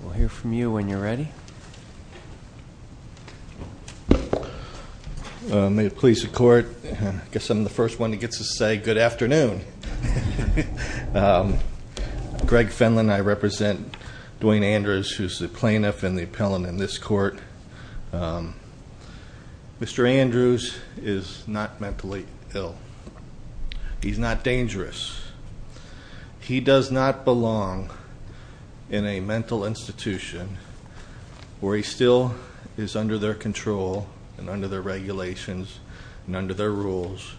We'll hear from you when you're ready. May it please the court, I guess I'm the first one who gets to say good afternoon. Greg Fenlon, I represent Dwayne Andrews, who's the plaintiff and the appellant in this court. Mr. Andrews is not mentally ill. He's not dangerous. He does not belong in a mental institution where he still is under their control and under their regulations and under their rules.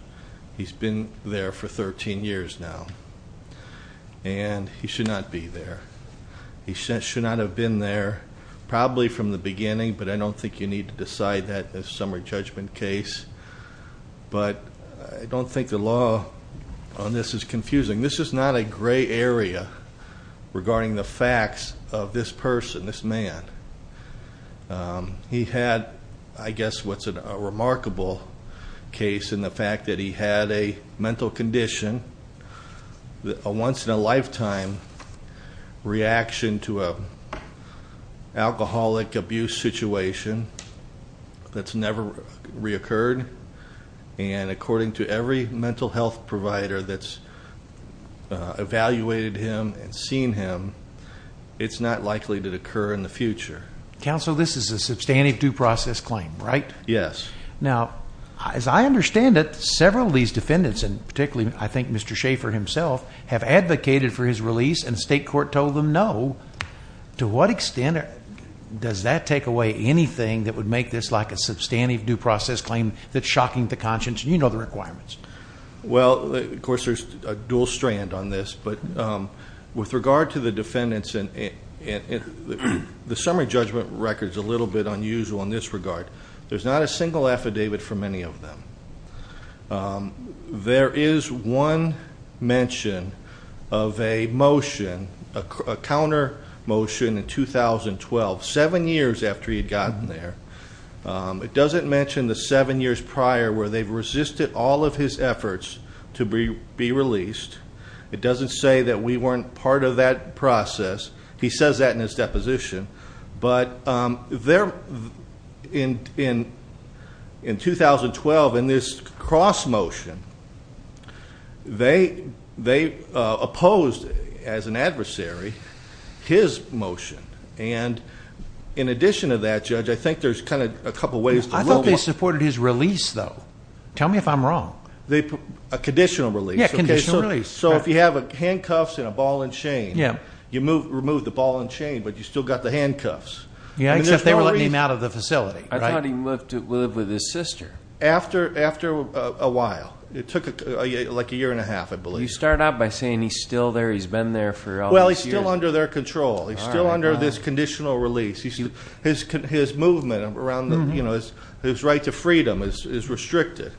He's been there for 13 years now, and he should not be there. He should not have been there probably from the beginning, but I don't think you need to decide that in a summary judgment case. But I don't think the law on this is confusing. This is not a gray area regarding the facts of this person, this man. He had, I guess, what's a remarkable case in the fact that he had a mental condition, a once in a lifetime reaction to an alcoholic abuse situation that's never reoccurred. And according to every mental health provider that's evaluated him and seen him, it's not likely to occur in the future. Counsel, this is a substantive due process claim, right? Yes. Now, as I understand it, several of these defendants, and particularly I think Mr. Schaffer himself, have advocated for his release, and state court told them no. To what extent does that take away anything that would make this like a substantive due process claim that's shocking to conscience? You know the requirements. Well, of course, there's a dual strand on this, but with regard to the defendants, the summary judgment record's a little bit unusual in this regard. There's not a single affidavit for many of them. There is one mention of a motion, a counter motion in 2012, seven years after he had gotten there. It doesn't mention the seven years prior where they've resisted all of his efforts to be released. It doesn't say that we weren't part of that process. He says that in his deposition. But in 2012, in this cross motion, they opposed, as an adversary, his motion. And in addition to that, Judge, I think there's kind of a couple ways- I thought they supported his release, though. Tell me if I'm wrong. A conditional release. Yeah, conditional release. So if you have handcuffs and a ball and chain, you removed the ball and chain, but you still got the handcuffs. Yeah, except they were letting him out of the facility. I thought he moved to live with his sister. After a while. It took like a year and a half, I believe. You start out by saying he's still there, he's been there for all these years. Well, he's still under their control. He's still under this conditional release. His movement around his right to freedom is restricted.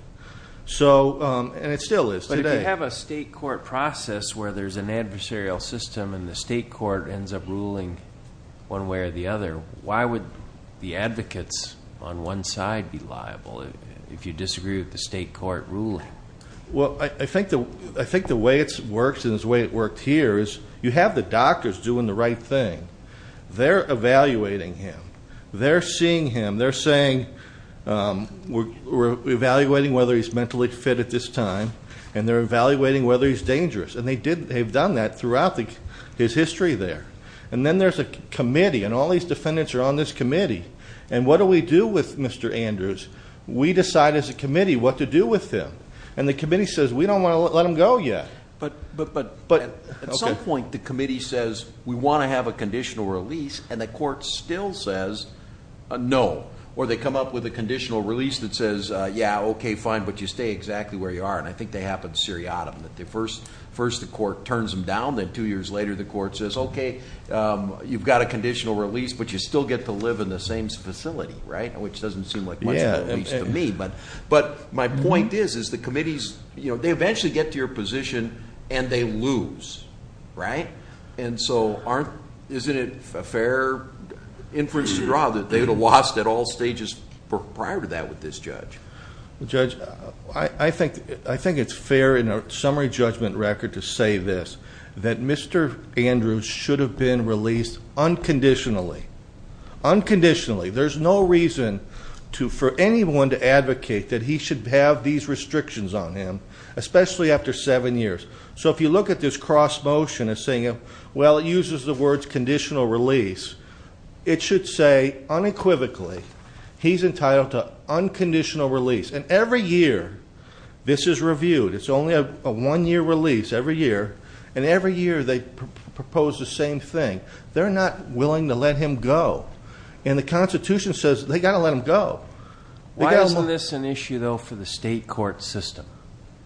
And it still is today. But if you have a state court process where there's an adversarial system and the state court ends up ruling one way or the other, why would the advocates on one side be liable if you disagree with the state court ruling? Well, I think the way it works and the way it worked here is you have the doctors doing the right thing. They're evaluating him. They're seeing him. They're saying we're evaluating whether he's mentally fit at this time. And they're evaluating whether he's dangerous. And they've done that throughout his history there. And then there's a committee, and all these defendants are on this committee. And what do we do with Mr. Andrews? We decide as a committee what to do with him. And the committee says we don't want to let him go yet. But at some point the committee says we want to have a conditional release, and the court still says no. Or they come up with a conditional release that says, yeah, okay, fine, but you stay exactly where you are. And I think that happens seriatim, that first the court turns him down, then two years later the court says, okay, you've got a conditional release, but you still get to live in the same facility, right, which doesn't seem like much of a release to me. But my point is the committees, you know, they eventually get to your position and they lose, right? And so isn't it a fair inference to draw that they would have lost at all stages prior to that with this judge? Judge, I think it's fair in a summary judgment record to say this, that Mr. Andrews should have been released unconditionally. Unconditionally. There's no reason for anyone to advocate that he should have these restrictions on him, especially after seven years. So if you look at this cross motion of saying, well, it uses the words conditional release, it should say unequivocally he's entitled to unconditional release. And every year this is reviewed. It's only a one-year release every year. And every year they propose the same thing. They're not willing to let him go. And the Constitution says they've got to let him go. Why isn't this an issue, though, for the state court system?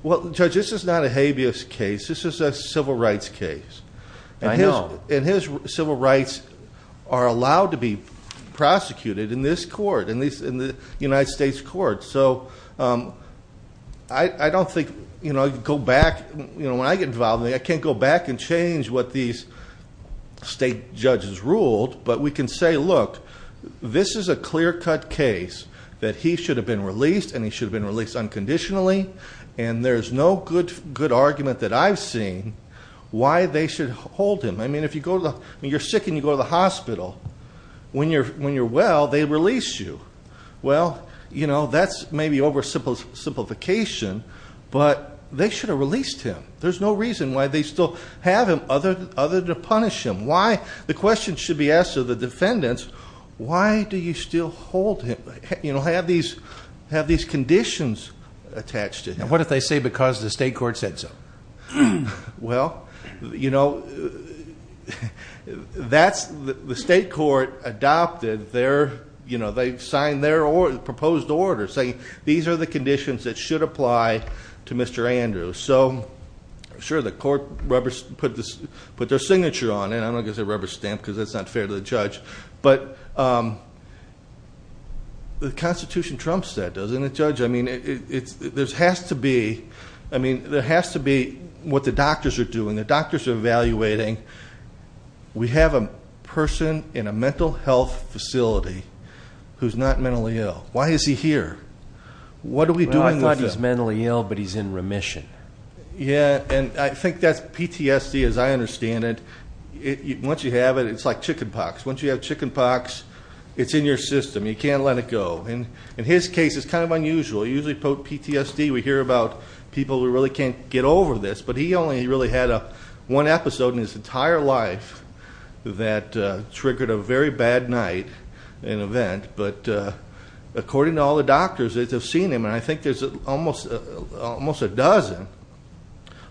Well, Judge, this is not a habeas case. This is a civil rights case. I know. And his civil rights are allowed to be prosecuted in this court, in the United States court. So I don't think I can go back. When I get involved, I can't go back and change what these state judges ruled. But we can say, look, this is a clear-cut case that he should have been released, and he should have been released unconditionally. And there's no good argument that I've seen why they should hold him. I mean, you're sick and you go to the hospital. When you're well, they release you. Well, that's maybe oversimplification, but they should have released him. There's no reason why they still have him other than to punish him. The question should be asked of the defendants, why do you still hold him, have these conditions attached to him? And what if they say because the state court said so? Well, you know, that's the state court adopted their, you know, they signed their proposed order saying these are the conditions that should apply to Mr. Andrews. So, sure, the court put their signature on it. I'm not going to say rubber stamp because that's not fair to the judge. But the Constitution trumps that, doesn't it, Judge? I mean, there has to be what the doctors are doing. The doctors are evaluating. We have a person in a mental health facility who's not mentally ill. Why is he here? What are we doing with him? Well, I thought he was mentally ill, but he's in remission. Yeah, and I think that's PTSD as I understand it. Once you have it, it's like chicken pox. Once you have chicken pox, it's in your system. You can't let it go. In his case, it's kind of unusual. Usually PTSD, we hear about people who really can't get over this. But he only really had one episode in his entire life that triggered a very bad night, an event. But according to all the doctors that have seen him, and I think there's almost a dozen,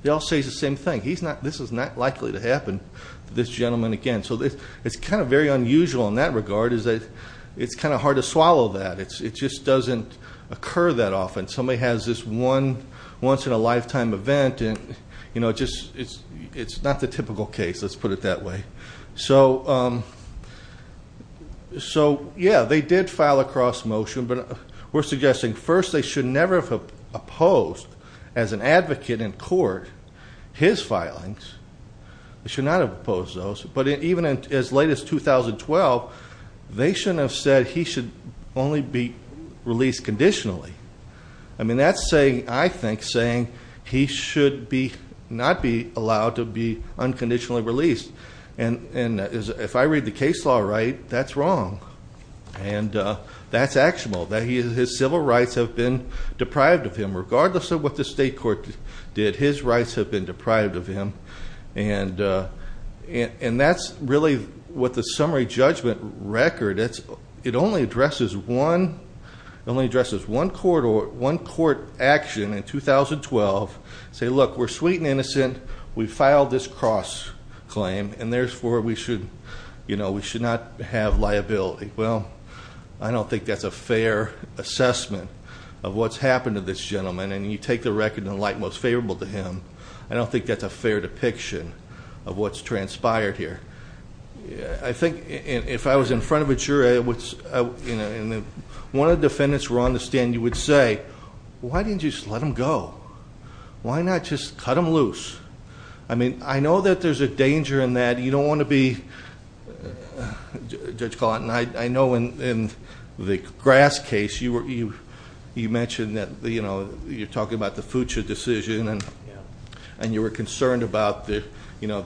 they all say the same thing. This is not likely to happen to this gentleman again. So it's kind of very unusual in that regard is that it's kind of hard to predict. It just doesn't occur that often. Somebody has this one once in a lifetime event, and it's not the typical case, let's put it that way. So, yeah, they did file a cross motion. But we're suggesting first they should never have opposed as an advocate in court his filings. They should not have opposed those. But even as late as 2012, they shouldn't have said he should only be released conditionally. I mean, that's saying, I think, saying he should not be allowed to be unconditionally released. And if I read the case law right, that's wrong. And that's actionable, that his civil rights have been deprived of him. Regardless of what the state court did, his rights have been deprived of him. And that's really what the summary judgment record, it only addresses one court action in 2012. Say, look, we're sweet and innocent. We filed this cross claim, and therefore we should not have liability. Well, I don't think that's a fair assessment of what's happened to this gentleman. And you take the record in light most favorable to him. I don't think that's a fair depiction of what's transpired here. I think, if I was in front of a jury, and one of the defendants were on the stand, you would say, why didn't you just let him go? Why not just cut him loose? I mean, I know that there's a danger in that. You don't want to be, Judge Carlton, I know in the Grass case, you mentioned that you're talking about the future decision. And you were concerned about the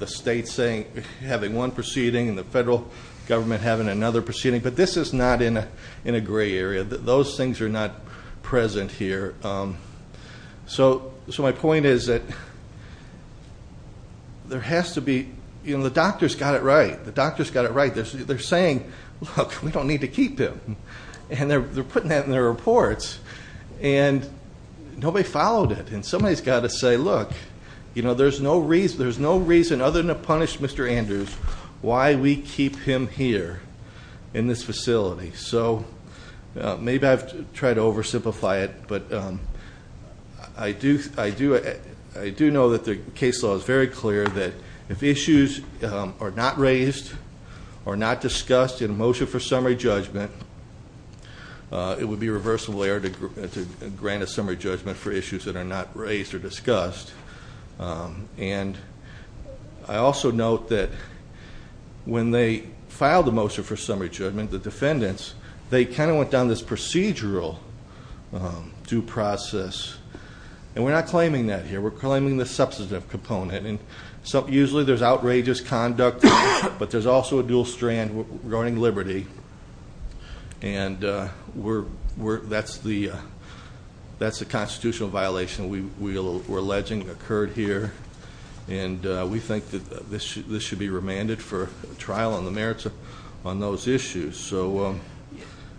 state having one proceeding and the federal government having another proceeding. But this is not in a gray area. Those things are not present here. So my point is that there has to be the doctor's got it right. The doctor's got it right. They're saying, look, we don't need to keep him. And they're putting that in their reports. And nobody followed it. And somebody's got to say, look, there's no reason, other than to punish Mr. Andrews, why we keep him here in this facility. So maybe I've tried to oversimplify it. But I do know that the case law is very clear that if issues are not raised or not discussed in a motion for summary judgment, it would be a reversal error to grant a summary judgment for issues that are not raised or discussed. And I also note that when they filed the motion for summary judgment, the defendants, they kind of went down this procedural due process. And we're not claiming that here. We're claiming the substantive component. And usually there's outrageous conduct, but there's also a dual strand regarding liberty. And that's the constitutional violation we're alleging occurred here. And we think that this should be remanded for trial on the merits on those issues. So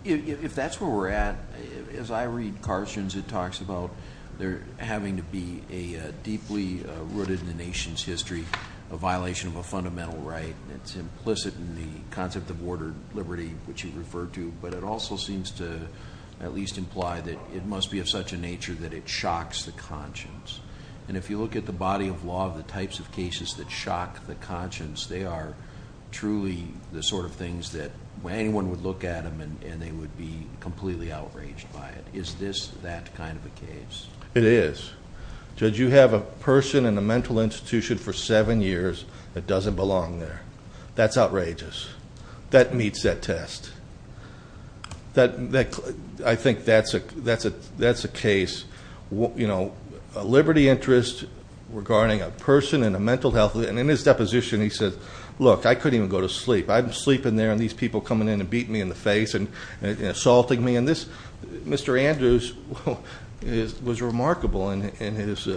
if that's where we're at, as I read Carson's, it talks about there having to be a deeply rooted in the nation's history violation of a fundamental right. It's implicit in the concept of ordered liberty, which he referred to. But it also seems to at least imply that it must be of such a nature that it shocks the conscience. And if you look at the body of law of the types of cases that shock the conscience, they are truly the sort of things that anyone would look at them and they would be completely outraged by it. Is this that kind of a case? It is. Judge, you have a person in a mental institution for seven years that doesn't belong there. That's outrageous. That meets that test. I think that's a case. You know, a liberty interest regarding a person in a mental health. And in his deposition he says, look, I couldn't even go to sleep. I'm sleeping there and these people coming in and beating me in the face and assaulting me. Mr. Andrews was remarkable in his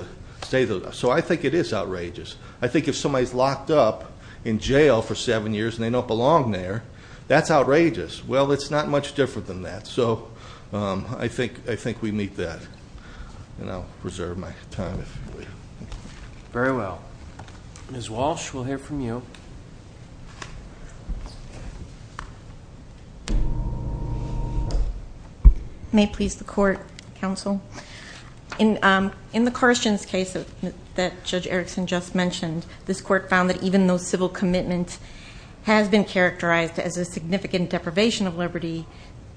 statement. So I think it is outrageous. I think if somebody is locked up in jail for seven years and they don't belong there, that's outrageous. Well, it's not much different than that. So I think we meet that. And I'll reserve my time. Very well. Ms. Walsh, we'll hear from you. May it please the Court, Counsel. In the Carstens case that Judge Erickson just mentioned, this Court found that even though civil commitment has been characterized as a significant deprivation of liberty,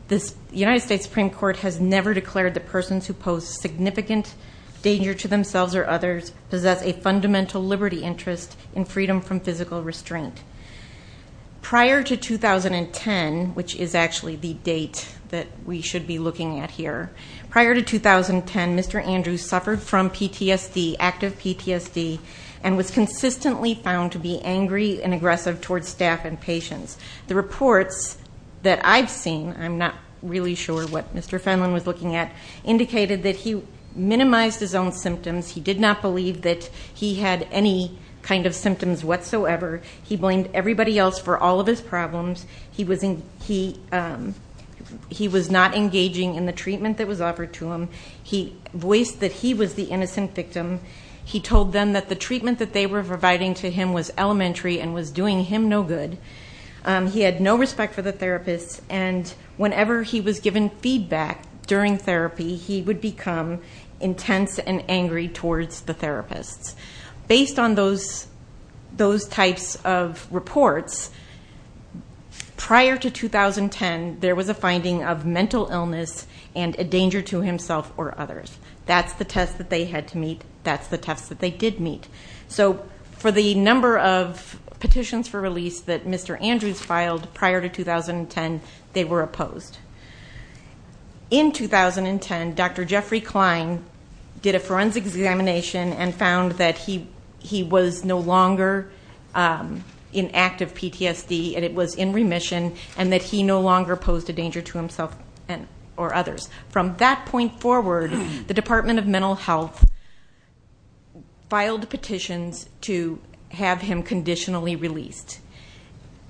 the United States Supreme Court has never declared that persons who pose significant danger to themselves or others possess a fundamental liberty interest in freedom from physical restraint. Prior to 2010, which is actually the date that we should be looking at here, prior to 2010, Mr. Andrews suffered from PTSD, active PTSD, and was consistently found to be angry and aggressive towards staff and patients. The reports that I've seen, I'm not really sure what Mr. Fenlon was looking at, indicated that he minimized his own symptoms. He did not believe that he had any kind of symptoms whatsoever. He blamed everybody else for all of his problems. He was not engaging in the treatment that was offered to him. He voiced that he was the innocent victim. He told them that the treatment that they were providing to him was elementary and was doing him no good. He had no respect for the therapists, and whenever he was given feedback during therapy, he would become intense and angry towards the therapists. Based on those types of reports, prior to 2010, there was a finding of mental illness and a danger to himself or others. That's the test that they had to meet. That's the test that they did meet. So for the number of petitions for release that Mr. Andrews filed prior to 2010, they were opposed. In 2010, Dr. Jeffrey Klein did a forensic examination and found that he was no longer in active PTSD, and it was in remission, and that he no longer posed a danger to himself or others. From that point forward, the Department of Mental Health filed petitions to have him conditionally released.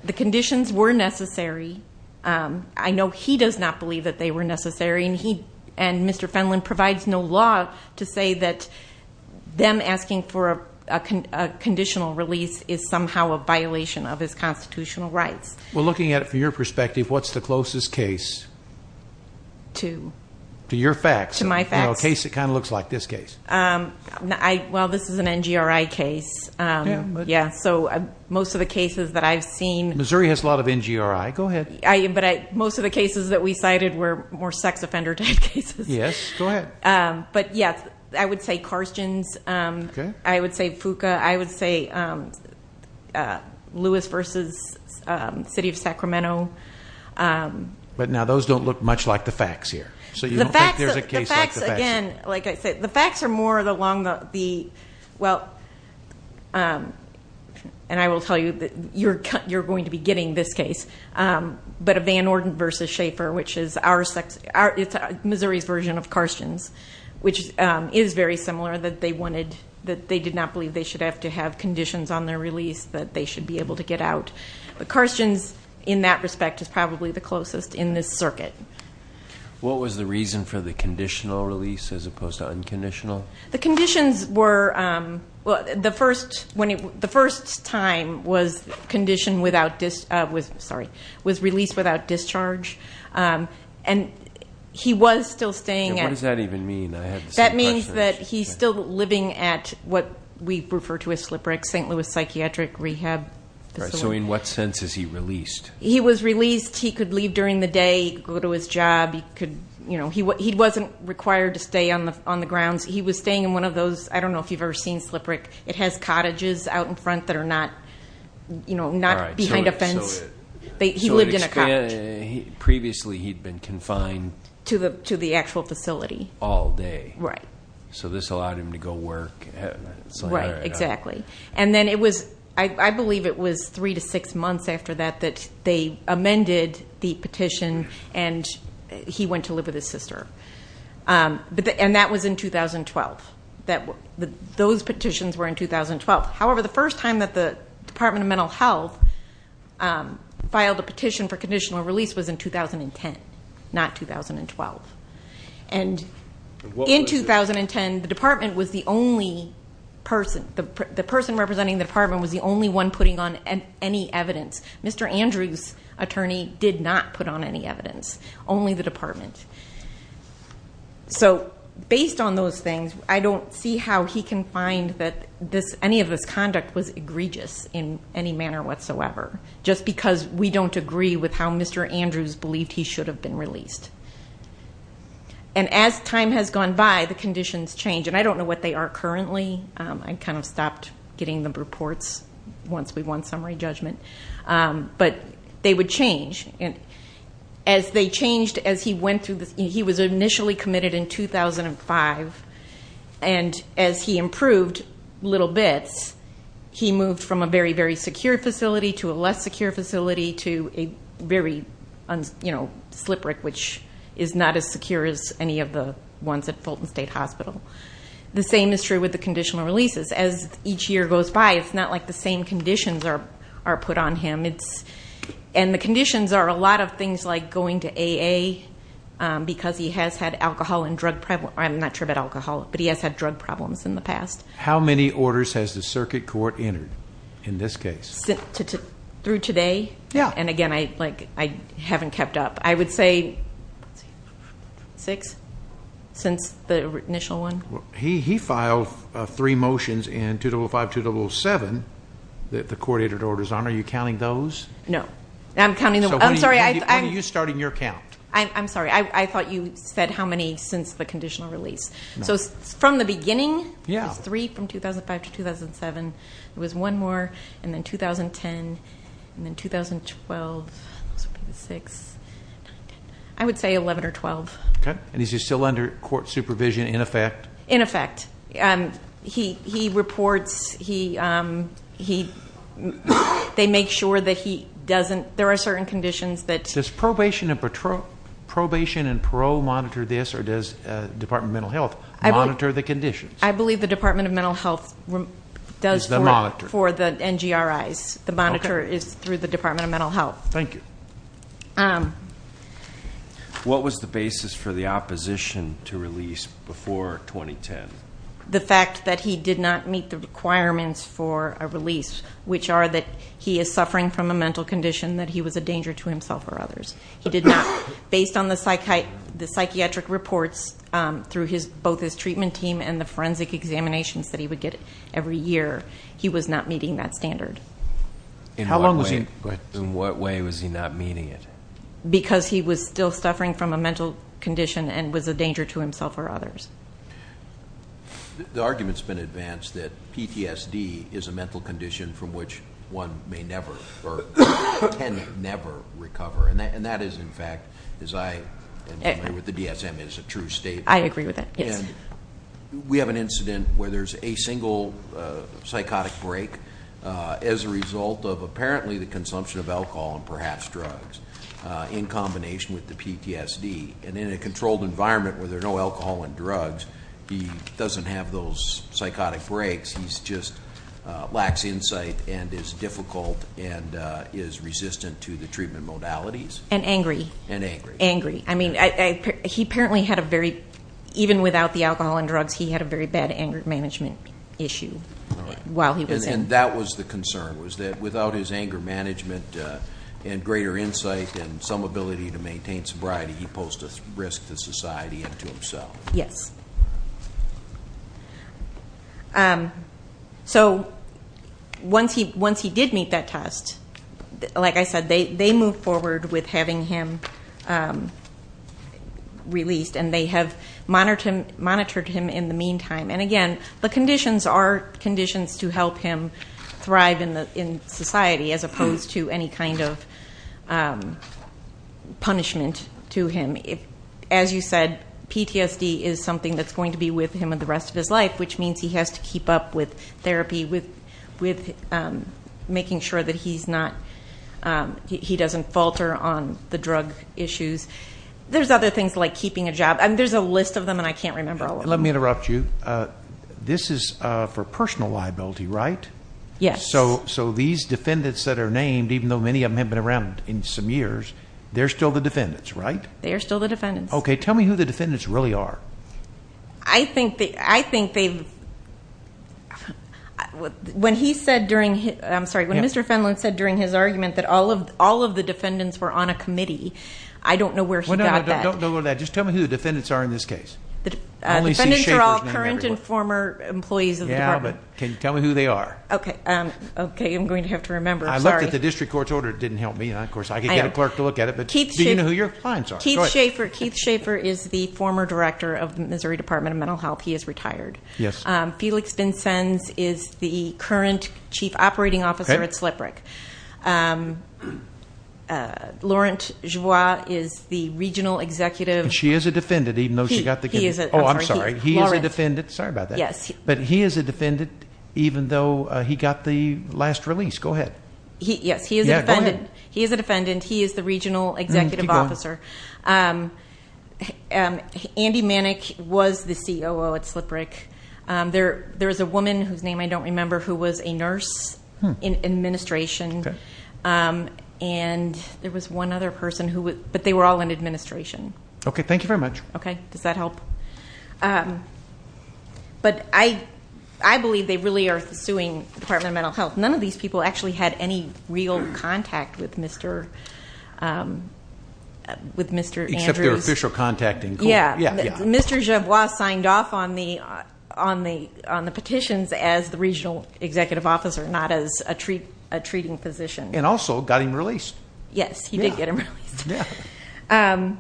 The conditions were necessary. I know he does not believe that they were necessary, and Mr. Fenlon provides no law to say that them asking for a conditional release is somehow a violation of his constitutional rights. Well, looking at it from your perspective, what's the closest case? To? To your facts. To my facts. A case that kind of looks like this case. Well, this is an NGRI case, so most of the cases that I've seen. Missouri has a lot of NGRI. Go ahead. But most of the cases that we cited were more sex offender type cases. Yes. Go ahead. But, yes, I would say Karstens. Okay. I would say Fuqua. I would say Lewis v. City of Sacramento. But now those don't look much like the facts here, so you don't think there's a case like the facts. The facts, again, like I said, the facts are more along the, well, and I will tell you that you're going to be getting this case. But a Van Orden v. Schaefer, which is our, it's Missouri's version of Karstens, which is very similar that they wanted, that they did not believe they should have to have conditions on their release that they should be able to get out. But Karstens, in that respect, is probably the closest in this circuit. What was the reason for the conditional release as opposed to unconditional? The conditions were, well, the first time was condition without, sorry, was released without discharge. And he was still staying at. What does that even mean? That means that he's still living at what we refer to as SLPRC, St. Louis Psychiatric Rehab. So in what sense is he released? He was released. He could leave during the day, go to his job. He wasn't required to stay on the grounds. He was staying in one of those, I don't know if you've ever seen SLPRC. It has cottages out in front that are not behind a fence. He lived in a cottage. Previously he'd been confined. To the actual facility. All day. Right. So this allowed him to go work. Right, exactly. And then it was, I believe it was three to six months after that that they amended the petition and he went to live with his sister. And that was in 2012. Those petitions were in 2012. However, the first time that the Department of Mental Health filed a petition for conditional release was in 2010, not 2012. And in 2010, the department was the only person, the person representing the department was the only one putting on any evidence. Only the department. So based on those things, I don't see how he can find that any of this conduct was egregious in any manner whatsoever, just because we don't agree with how Mr. Andrews believed he should have been released. And as time has gone by, the conditions change. And I don't know what they are currently. I kind of stopped getting the reports once we won summary judgment. But they would change. As they changed as he went through this, he was initially committed in 2005, and as he improved little bits, he moved from a very, very secure facility to a less secure facility to a very, you know, slippery, which is not as secure as any of the ones at Fulton State Hospital. The same is true with the conditional releases. As each year goes by, it's not like the same conditions are put on him. And the conditions are a lot of things like going to AA because he has had alcohol and drug problems. I'm not sure about alcohol, but he has had drug problems in the past. How many orders has the circuit court entered in this case? Through today? Yeah. And, again, I haven't kept up. I would say six since the initial one. He filed three motions in 2005-2007 that the court entered orders on. Are you counting those? No. I'm counting them. I'm sorry. When are you starting your count? I'm sorry. I thought you said how many since the conditional release. No. So from the beginning? Yeah. There's three from 2005 to 2007. There was one more, and then 2010, and then 2012. Those would be the six. I would say 11 or 12. Okay. And is he still under court supervision in effect? In effect. He reports. They make sure that he doesn't. There are certain conditions that. Does probation and parole monitor this, or does Department of Mental Health monitor the conditions? I believe the Department of Mental Health does for the NGRIs. The monitor is through the Department of Mental Health. Thank you. What was the basis for the opposition to release before 2010? The fact that he did not meet the requirements for a release, which are that he is suffering from a mental condition, that he was a danger to himself or others. He did not. Based on the psychiatric reports through both his treatment team and the forensic examinations that he would get every year, he was not meeting that standard. In what way was he not meeting it? Because he was still suffering from a mental condition and was a danger to himself or others. The argument's been advanced that PTSD is a mental condition from which one may never or can never recover. And that is, in fact, as I agree with the DSM, is a true statement. I agree with it, yes. And we have an incident where there's a single psychotic break as a result of apparently the consumption of alcohol and perhaps drugs. In combination with the PTSD. And in a controlled environment where there's no alcohol and drugs, he doesn't have those psychotic breaks. He's just lacks insight and is difficult and is resistant to the treatment modalities. And angry. And angry. Angry. I mean, he apparently had a very, even without the alcohol and drugs, he had a very bad anger management issue while he was in. And that was the concern, was that without his anger management and greater insight and some ability to maintain sobriety, he posed a risk to society and to himself. Yes. So once he did meet that test, like I said, they moved forward with having him released. And they have monitored him in the meantime. And again, the conditions are conditions to help him thrive in society as opposed to any kind of punishment to him. As you said, PTSD is something that's going to be with him the rest of his life, which means he has to keep up with therapy, with making sure that he's not, he doesn't falter on the drug issues. There's other things like keeping a job. There's a list of them and I can't remember all of them. Let me interrupt you. This is for personal liability, right? Yes. So these defendants that are named, even though many of them have been around in some years, they're still the defendants, right? They are still the defendants. Okay. Tell me who the defendants really are. I think they, when he said during, I'm sorry, when Mr. Fenlon said during his argument that all of the defendants were on a committee, I don't know where he got that. Don't go to that. Just tell me who the defendants are in this case. The defendants are all current and former employees of the department. Yeah, but can you tell me who they are? Okay. Okay. I'm going to have to remember. I'm sorry. I looked at the district court's order. It didn't help me. Of course, I could get a clerk to look at it, but do you know who your clients are? Keith Schaefer. Keith Schaefer is the former director of the Missouri Department of Mental Health. He is retired. Yes. Felix Vincennes is the current chief operating officer at SlipRick. Okay. Laurent Joie is the regional executive. She is a defendant even though she got the committee. He is. Oh, I'm sorry. He is a defendant. Sorry about that. Yes. But he is a defendant even though he got the last release. Go ahead. Yes, he is a defendant. Yeah, go ahead. He is a defendant. He is the regional executive officer. Keep going. Andy Manick was the COO at SlipRick. There was a woman whose name I don't remember who was a nurse in administration. Okay. And there was one other person who was, but they were all in administration. Okay. Thank you very much. Okay. Does that help? But I believe they really are suing the Department of Mental Health. None of these people actually had any real contact with Mr. Andrews. Except their official contact in court. Yeah. Yeah. Yeah. Mr. Javois signed off on the petitions as the regional executive officer, not as a treating physician. And also got him released. Yes. He did get him released. Yeah.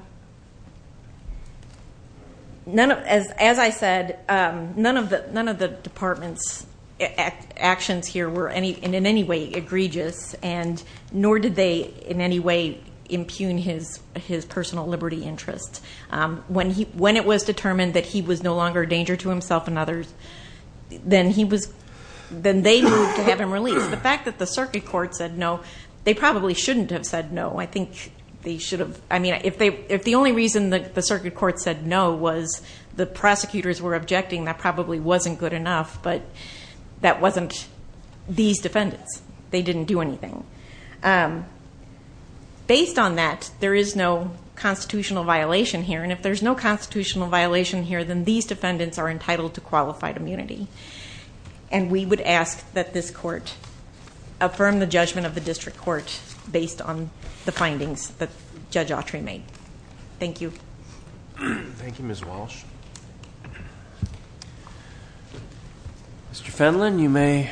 As I said, none of the department's actions here were in any way egregious, nor did they in any way impugn his personal liberty interest. When it was determined that he was no longer a danger to himself and others, then they moved to have him released. The fact that the circuit court said no, they probably shouldn't have said no. I think they should have. I mean, if the only reason the circuit court said no was the prosecutors were objecting, that probably wasn't good enough. But that wasn't these defendants. They didn't do anything. Based on that, there is no constitutional violation here. And if there's no constitutional violation here, then these defendants are entitled to qualified immunity. And we would ask that this court affirm the judgment of the district court based on the findings that Judge Autry made. Thank you. Thank you, Ms. Walsh. Mr. Fenlon, you may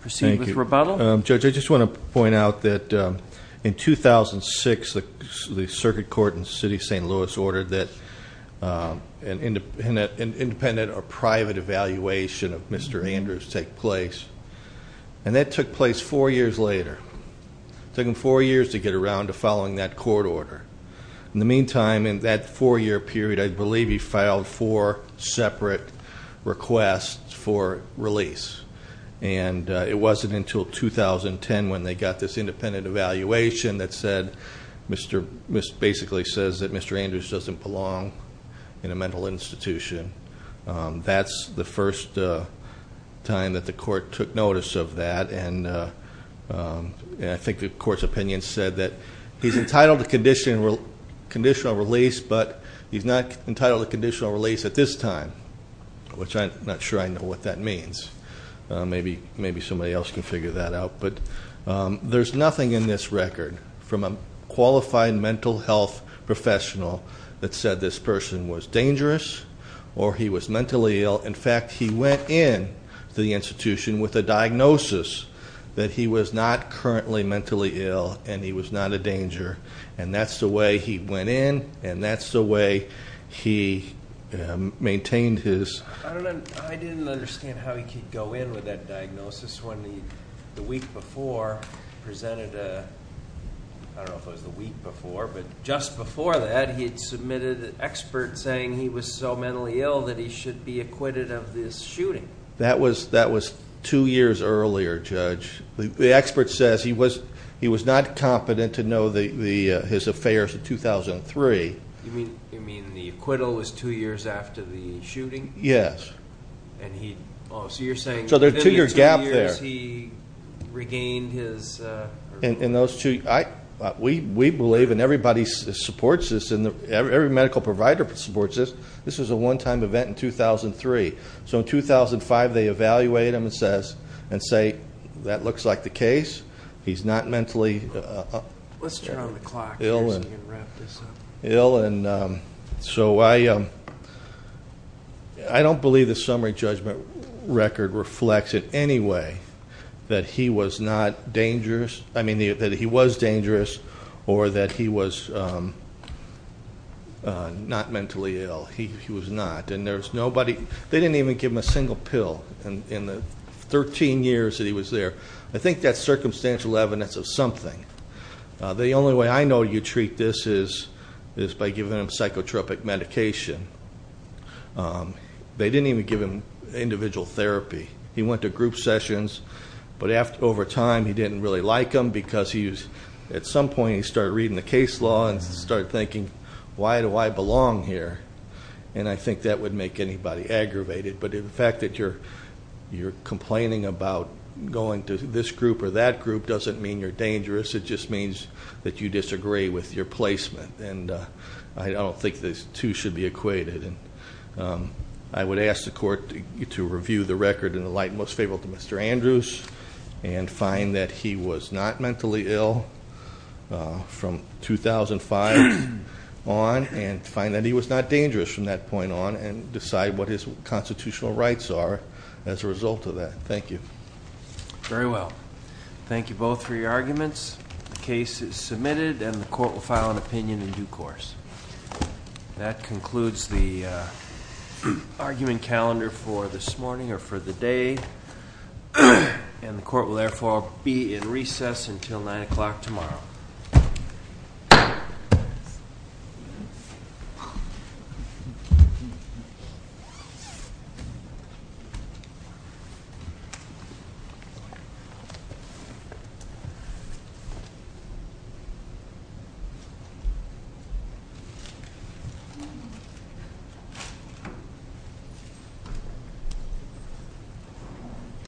proceed with rebuttal. Thank you. Judge, I just want to point out that in 2006, the circuit court in the city of St. Louis ordered that an independent or private evaluation of Mr. Andrews take place. And that took place four years later. It took him four years to get around to following that court order. In the meantime, in that four-year period, I believe he filed four separate requests for release. And it wasn't until 2010 when they got this independent evaluation that basically says that Mr. Andrews doesn't belong in a mental institution. That's the first time that the court took notice of that. And I think the court's opinion said that he's entitled to conditional release, but he's not entitled to conditional release at this time, which I'm not sure I know what that means. Maybe somebody else can figure that out. But there's nothing in this record from a qualified mental health professional that said this person was dangerous or he was mentally ill. In fact, he went in to the institution with a diagnosis that he was not currently mentally ill and he was not a danger. And that's the way he went in and that's the way he maintained his. I didn't understand how he could go in with that diagnosis when the week before presented a, I don't know if it was the week before, but just before that he had submitted an expert saying he was so mentally ill that he should be acquitted of this shooting. That was two years earlier, Judge. The expert says he was not competent to know his affairs in 2003. You mean the acquittal was two years after the shooting? Yes. Oh, so you're saying within the two years he regained his. We believe, and everybody supports this, every medical provider supports this, this was a one-time event in 2003. So in 2005 they evaluate him and say, that looks like the case. He's not mentally ill. Let's turn on the clock and wrap this up. Ill and so I don't believe the summary judgment record reflects it anyway that he was not dangerous. I mean that he was dangerous or that he was not mentally ill. He was not. They didn't even give him a single pill in the 13 years that he was there. I think that's circumstantial evidence of something. The only way I know you treat this is by giving him psychotropic medication. They didn't even give him individual therapy. He went to group sessions, but over time he didn't really like them because at some point he started reading the case law and started thinking, why do I belong here? And I think that would make anybody aggravated. But the fact that you're complaining about going to this group or that group doesn't mean you're dangerous. It just means that you disagree with your placement. And I don't think the two should be equated. I would ask the court to review the record in the light most favorable to Mr. Andrews and find that he was not mentally ill from 2005 on and find that he was not dangerous from that point on and decide what his constitutional rights are as a result of that. Thank you. Very well. Thank you both for your arguments. The case is submitted and the court will file an opinion in due course. That concludes the argument calendar for this morning or for the day. And the court will therefore be in recess until 9 o'clock tomorrow. Thank you.